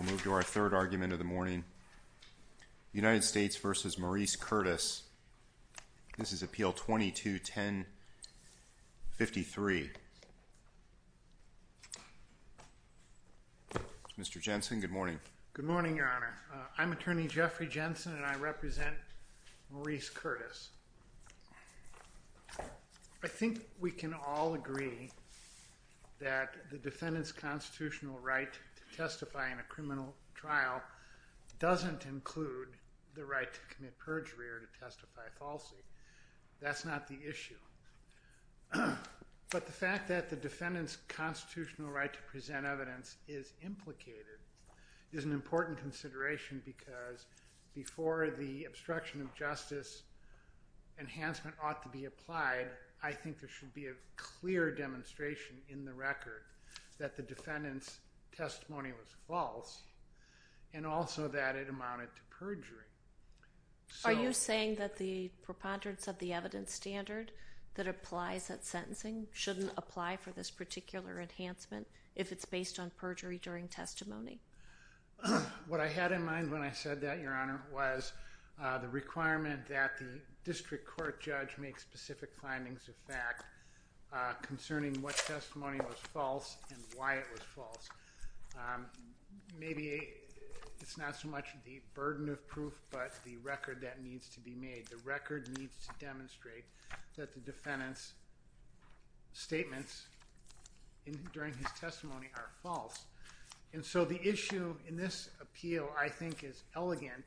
This is Appeal 22-10-53. Mr. Jensen, good morning. Good morning, Your Honor. I'm Attorney Jeffrey Jensen and I represent Maurice Curtis. I think we can all agree that the defendant's constitutional right to testify in a criminal trial doesn't include the right to commit perjury or to testify falsely. That's not the issue. But the fact that the defendant's constitutional right to present evidence is implicated is an important consideration because before the obstruction of justice enhancement ought to be applied, I think there should be a clear demonstration in the record that the defendant's testimony was false and also that it amounted to perjury. Are you saying that the preponderance of the evidence standard that applies at sentencing shouldn't apply for this particular enhancement if it's based on perjury during testimony? What I had in mind when I said that, Your Honor, was the requirement that the district court judge make specific findings of fact concerning what testimony was false and why it was false. Maybe it's not so much the burden of proof but the record that needs to be made. The record needs to demonstrate that the defendant's statements during his testimony are false. And so the issue in this appeal, I think, is elegant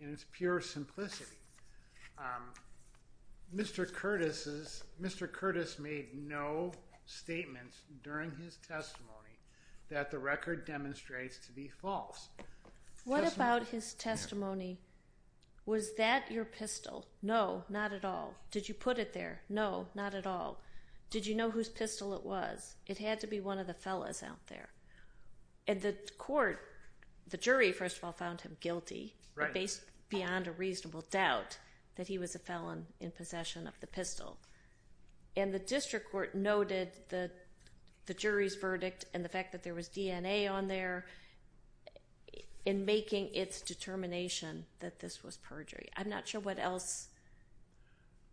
in its pure simplicity. Mr. Curtis made no statements during his testimony that the record demonstrates to be false. What about his testimony? Was that your pistol? No, not at all. Did you put it there? No, not at all. Did you know whose pistol it was? It had to be one of the fellas out there. And the court, the jury, first of all, found him guilty based beyond a reasonable doubt that he was a felon in possession of the pistol. And the district court noted the jury's verdict and the fact that there was DNA on there in making its determination that this was perjury. I'm not sure what else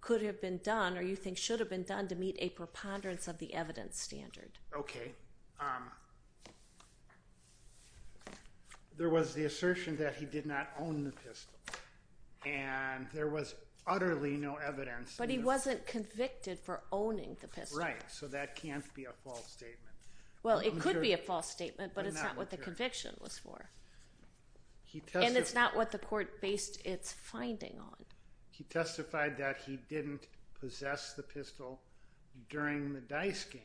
could have been done or you think should have been done to meet a preponderance of the evidence standard. Okay. There was the assertion that he did not own the pistol. And there was utterly no evidence. But he wasn't convicted for owning the pistol. Right, so that can't be a false statement. Well, it could be a false statement, but it's not what the conviction was for. And it's not what the court based its finding on. He testified that he didn't possess the pistol during the dice game.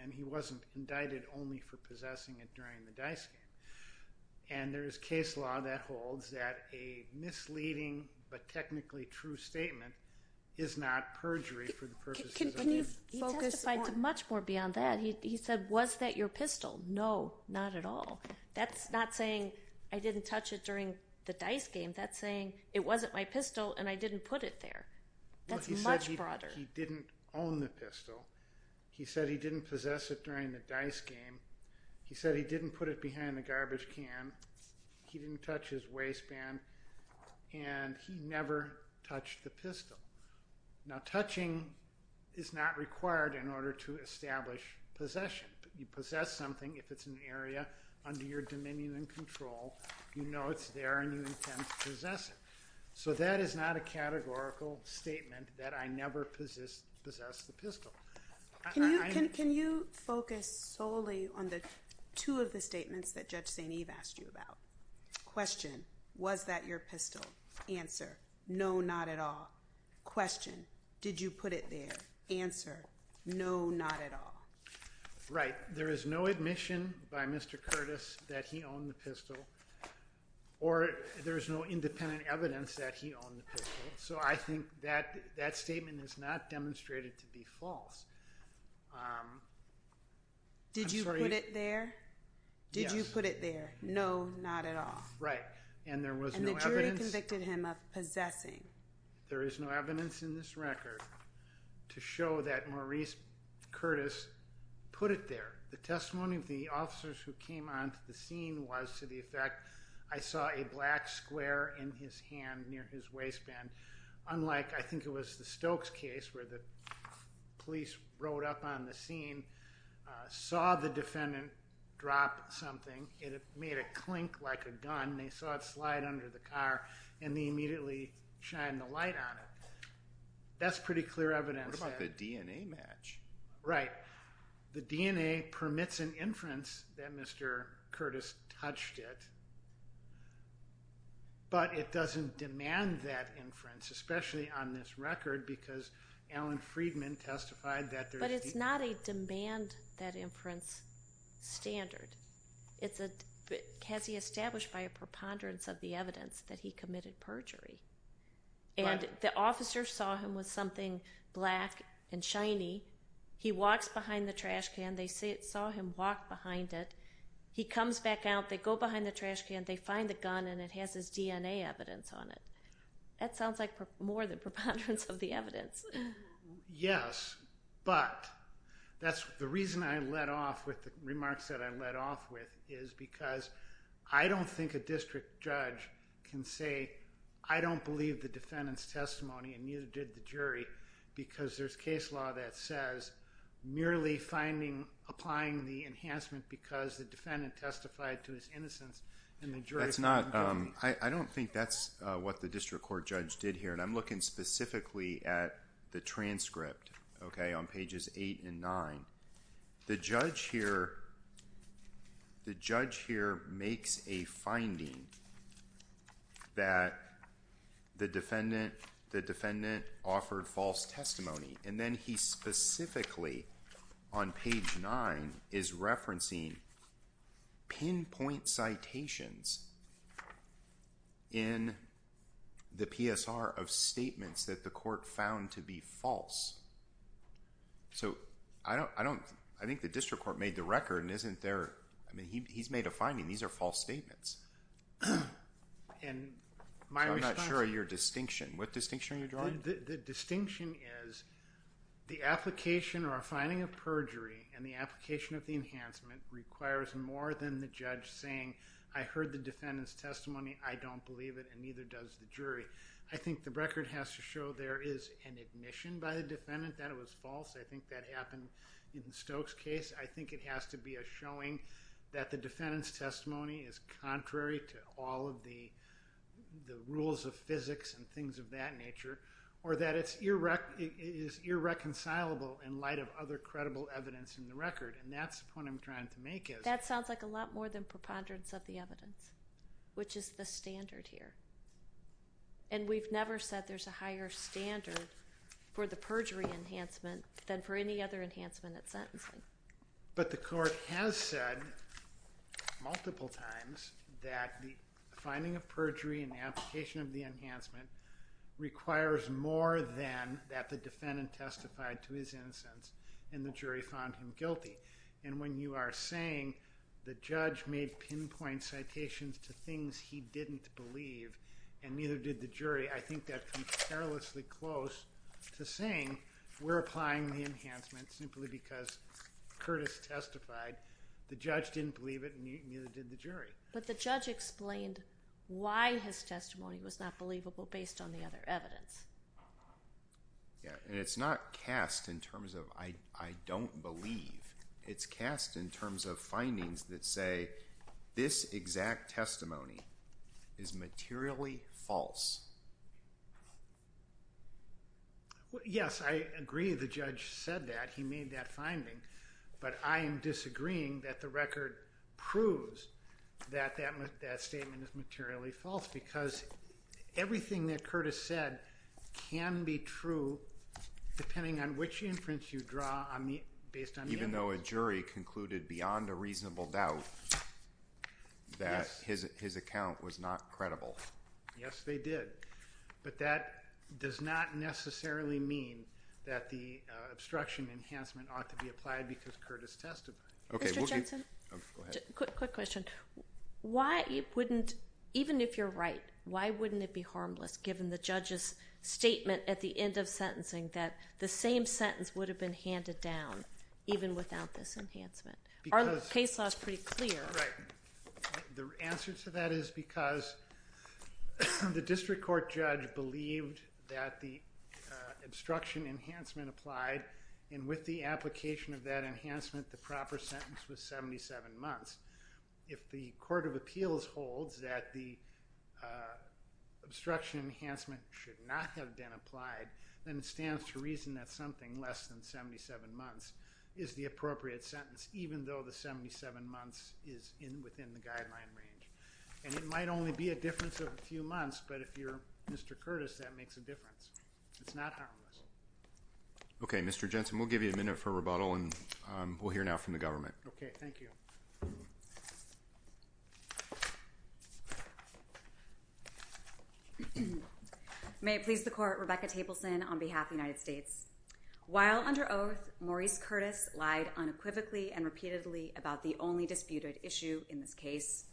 And he wasn't indicted only for possessing it during the dice game. And there is case law that holds that a misleading but technically true statement is not perjury for the purposes of the case. He testified to much more beyond that. He said, was that your pistol? No, not at all. That's not saying I didn't touch it during the dice game. That's saying it wasn't my pistol and I didn't put it there. That's much broader. He said he didn't own the pistol. He said he didn't possess it during the dice game. He said he didn't put it behind the garbage can. He didn't touch his waistband. And he never touched the pistol. Now, touching is not required in order to establish possession. You possess something if it's an area under your dominion and control. You know it's there and you intend to possess it. So that is not a categorical statement that I never possessed the pistol. Can you focus solely on the two of the statements that Judge St. Eve asked you about? Question. Was that your pistol? Answer. No, not at all. Question. Did you put it there? Answer. No, not at all. Right. There is no admission by Mr. Curtis that he owned the pistol. Or there is no independent evidence that he owned the pistol. So I think that statement is not demonstrated to be false. Did you put it there? Did you put it there? No, not at all. And there was no evidence. And the jury convicted him of possessing. There is no evidence in this record to show that Maurice Curtis put it there. The testimony of the officers who came onto the scene was to the effect, I saw a black square in his hand near his waistband, unlike I think it was the Stokes case where the police rode up on the scene, saw the defendant drop something, it made a clink like a gun, they saw it slide under the car, and they immediately shined the light on it. That's pretty clear evidence. What about the DNA match? Right. The DNA permits an inference that Mr. Curtis touched it, but it doesn't demand that inference, especially on this record, because Alan Freedman testified that there's the... But it's not a demand that inference standard. It's a, has he established by a preponderance of the evidence that he committed perjury. And the officers saw him with something black and shiny. He walks behind the trash can. They saw him walk behind it. He comes back out. They go behind the trash can. They find the gun, and it has his DNA evidence on it. That sounds like more than preponderance of the evidence. Yes, but that's the reason I let off with the remarks that I let off with is because I don't think a district judge can say, I don't believe the defendant's testimony and neither did the jury, because there's case law that says merely finding, applying the enhancement because the defendant testified to his innocence and the jury's not giving it. I don't think that's what the district court judge did here, and I'm looking specifically at the transcript, okay, on pages 8 and 9. The judge here makes a finding that the defendant offered false testimony, and then he specifically, on page 9, is referencing pinpoint citations in the PSR of statements that the court found to be false. So I think the district court made the record, and he's made a finding. These are false statements. I'm not sure of your distinction. What distinction are you drawing? The distinction is the application or finding of perjury and the application of the enhancement requires more than the judge saying, I heard the defendant's testimony, I don't believe it, and neither does the jury. I think the record has to show there is an admission by the defendant that it was false. I think that happened in Stokes' case. I think it has to be a showing that the defendant's testimony is contrary to all of the rules of physics and things of that nature, or that it is irreconcilable in light of other credible evidence in the record, and that's the point I'm trying to make. That sounds like a lot more than preponderance of the evidence, which is the standard here. And we've never said there's a higher standard for the perjury enhancement than for any other enhancement at sentencing. But the court has said multiple times that the finding of perjury and the application of the enhancement requires more than that the defendant testified to his innocence and the jury found him guilty. And when you are saying the judge made pinpoint citations to things he didn't believe and neither did the jury, I think that comes perilously close to saying we're applying the enhancement simply because Curtis testified the judge didn't believe it and neither did the jury. But the judge explained why his testimony was not believable based on the other evidence. Yeah, and it's not cast in terms of I don't believe. It's cast in terms of findings that say this exact testimony is materially false. Yes, I agree the judge said that. He made that finding. But I am disagreeing that the record proves that that statement is materially false because everything that Curtis said can be true depending on which inference you draw based on the evidence. Even though a jury concluded beyond a reasonable doubt that his account was not credible. Yes, they did. But that does not necessarily mean that the obstruction enhancement ought to be applied because Curtis testified. Mr. Jensen, quick question. Why wouldn't, even if you're right, why wouldn't it be harmless given the judge's statement at the end of sentencing that the same sentence would have been handed down even without this enhancement? Our case law is pretty clear. Right. The answer to that is because the district court judge believed that the obstruction enhancement applied and with the application of that enhancement, the proper sentence was 77 months. If the court of appeals holds that the obstruction enhancement should not have been applied, then it stands to reason that something less than 77 months is the appropriate sentence even though the 77 months is within the guideline range. And it might only be a difference of a few months, but if you're Mr. Curtis, that makes a difference. It's not harmless. Okay. Mr. Jensen, we'll give you a minute for rebuttal, and we'll hear now from the government. Okay. Thank you. May it please the court, Rebecca Tableson on behalf of the United States. While under oath, Maurice Curtis lied unequivocally and repeatedly about the only disputed issue in this case,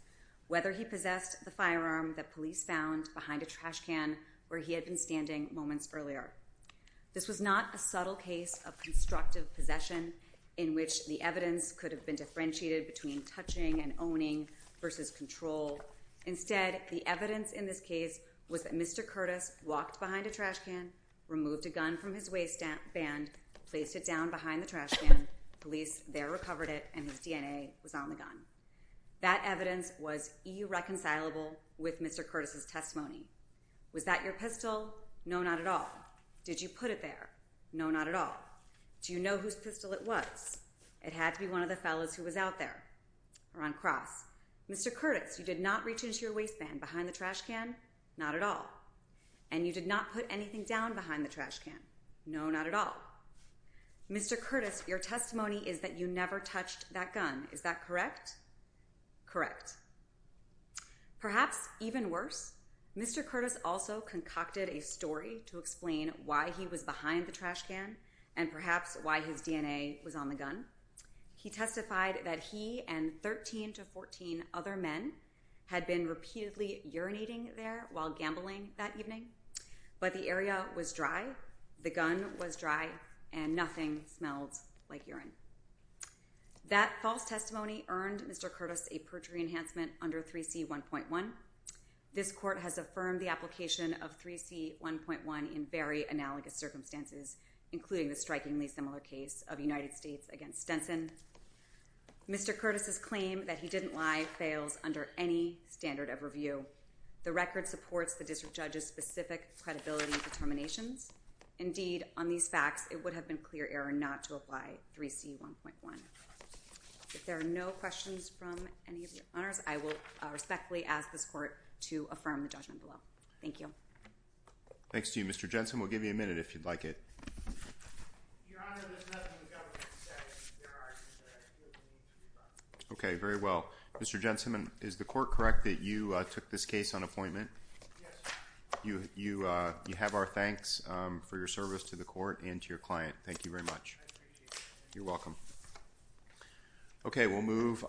whether he possessed the firearm that police found behind a trash can where he had been standing moments earlier. This was not a subtle case of constructive possession in which the evidence could have been differentiated between touching and owning versus control. Instead, the evidence in this case was that Mr. Curtis walked behind a trash can, removed a gun from his waistband, placed it down behind the trash can, police there recovered it, and his DNA was on the gun. That evidence was irreconcilable with Mr. Curtis' testimony. Was that your pistol? No, not at all. Did you put it there? No, not at all. Do you know whose pistol it was? It had to be one of the fellows who was out there or on cross. Mr. Curtis, you did not reach into your waistband behind the trash can? Not at all. And you did not put anything down behind the trash can? No, not at all. Mr. Curtis, your testimony is that you never touched that gun. Is that correct? Correct. Perhaps even worse, Mr. Curtis also concocted a story to explain why he was behind the trash can and perhaps why his DNA was on the gun. He testified that he and 13 to 14 other men had been repeatedly urinating there while gambling that evening, but the area was dry, the gun was dry, and nothing smelled like urine. That false testimony earned Mr. Curtis a perjury enhancement under 3C1.1. This court has affirmed the application of 3C1.1 in very analogous circumstances, including the strikingly similar case of the United States against Stenson. Mr. Curtis' claim that he didn't lie fails under any standard of review. The record supports the district judge's specific credibility determinations. Indeed, on these facts, it would have been clear error not to apply 3C1.1. If there are no questions from any of the honors, I will respectfully ask this court to affirm the judgment below. Thank you. Thanks to you, Mr. Jensen. We'll give you a minute if you'd like it. Okay, very well. Mr. Jensen, is the court correct that you took this case on appointment? Yes, Your Honor. You have our thanks for your service to the court and to your client. Thank you very much. I appreciate it. You're welcome. Okay, we'll move.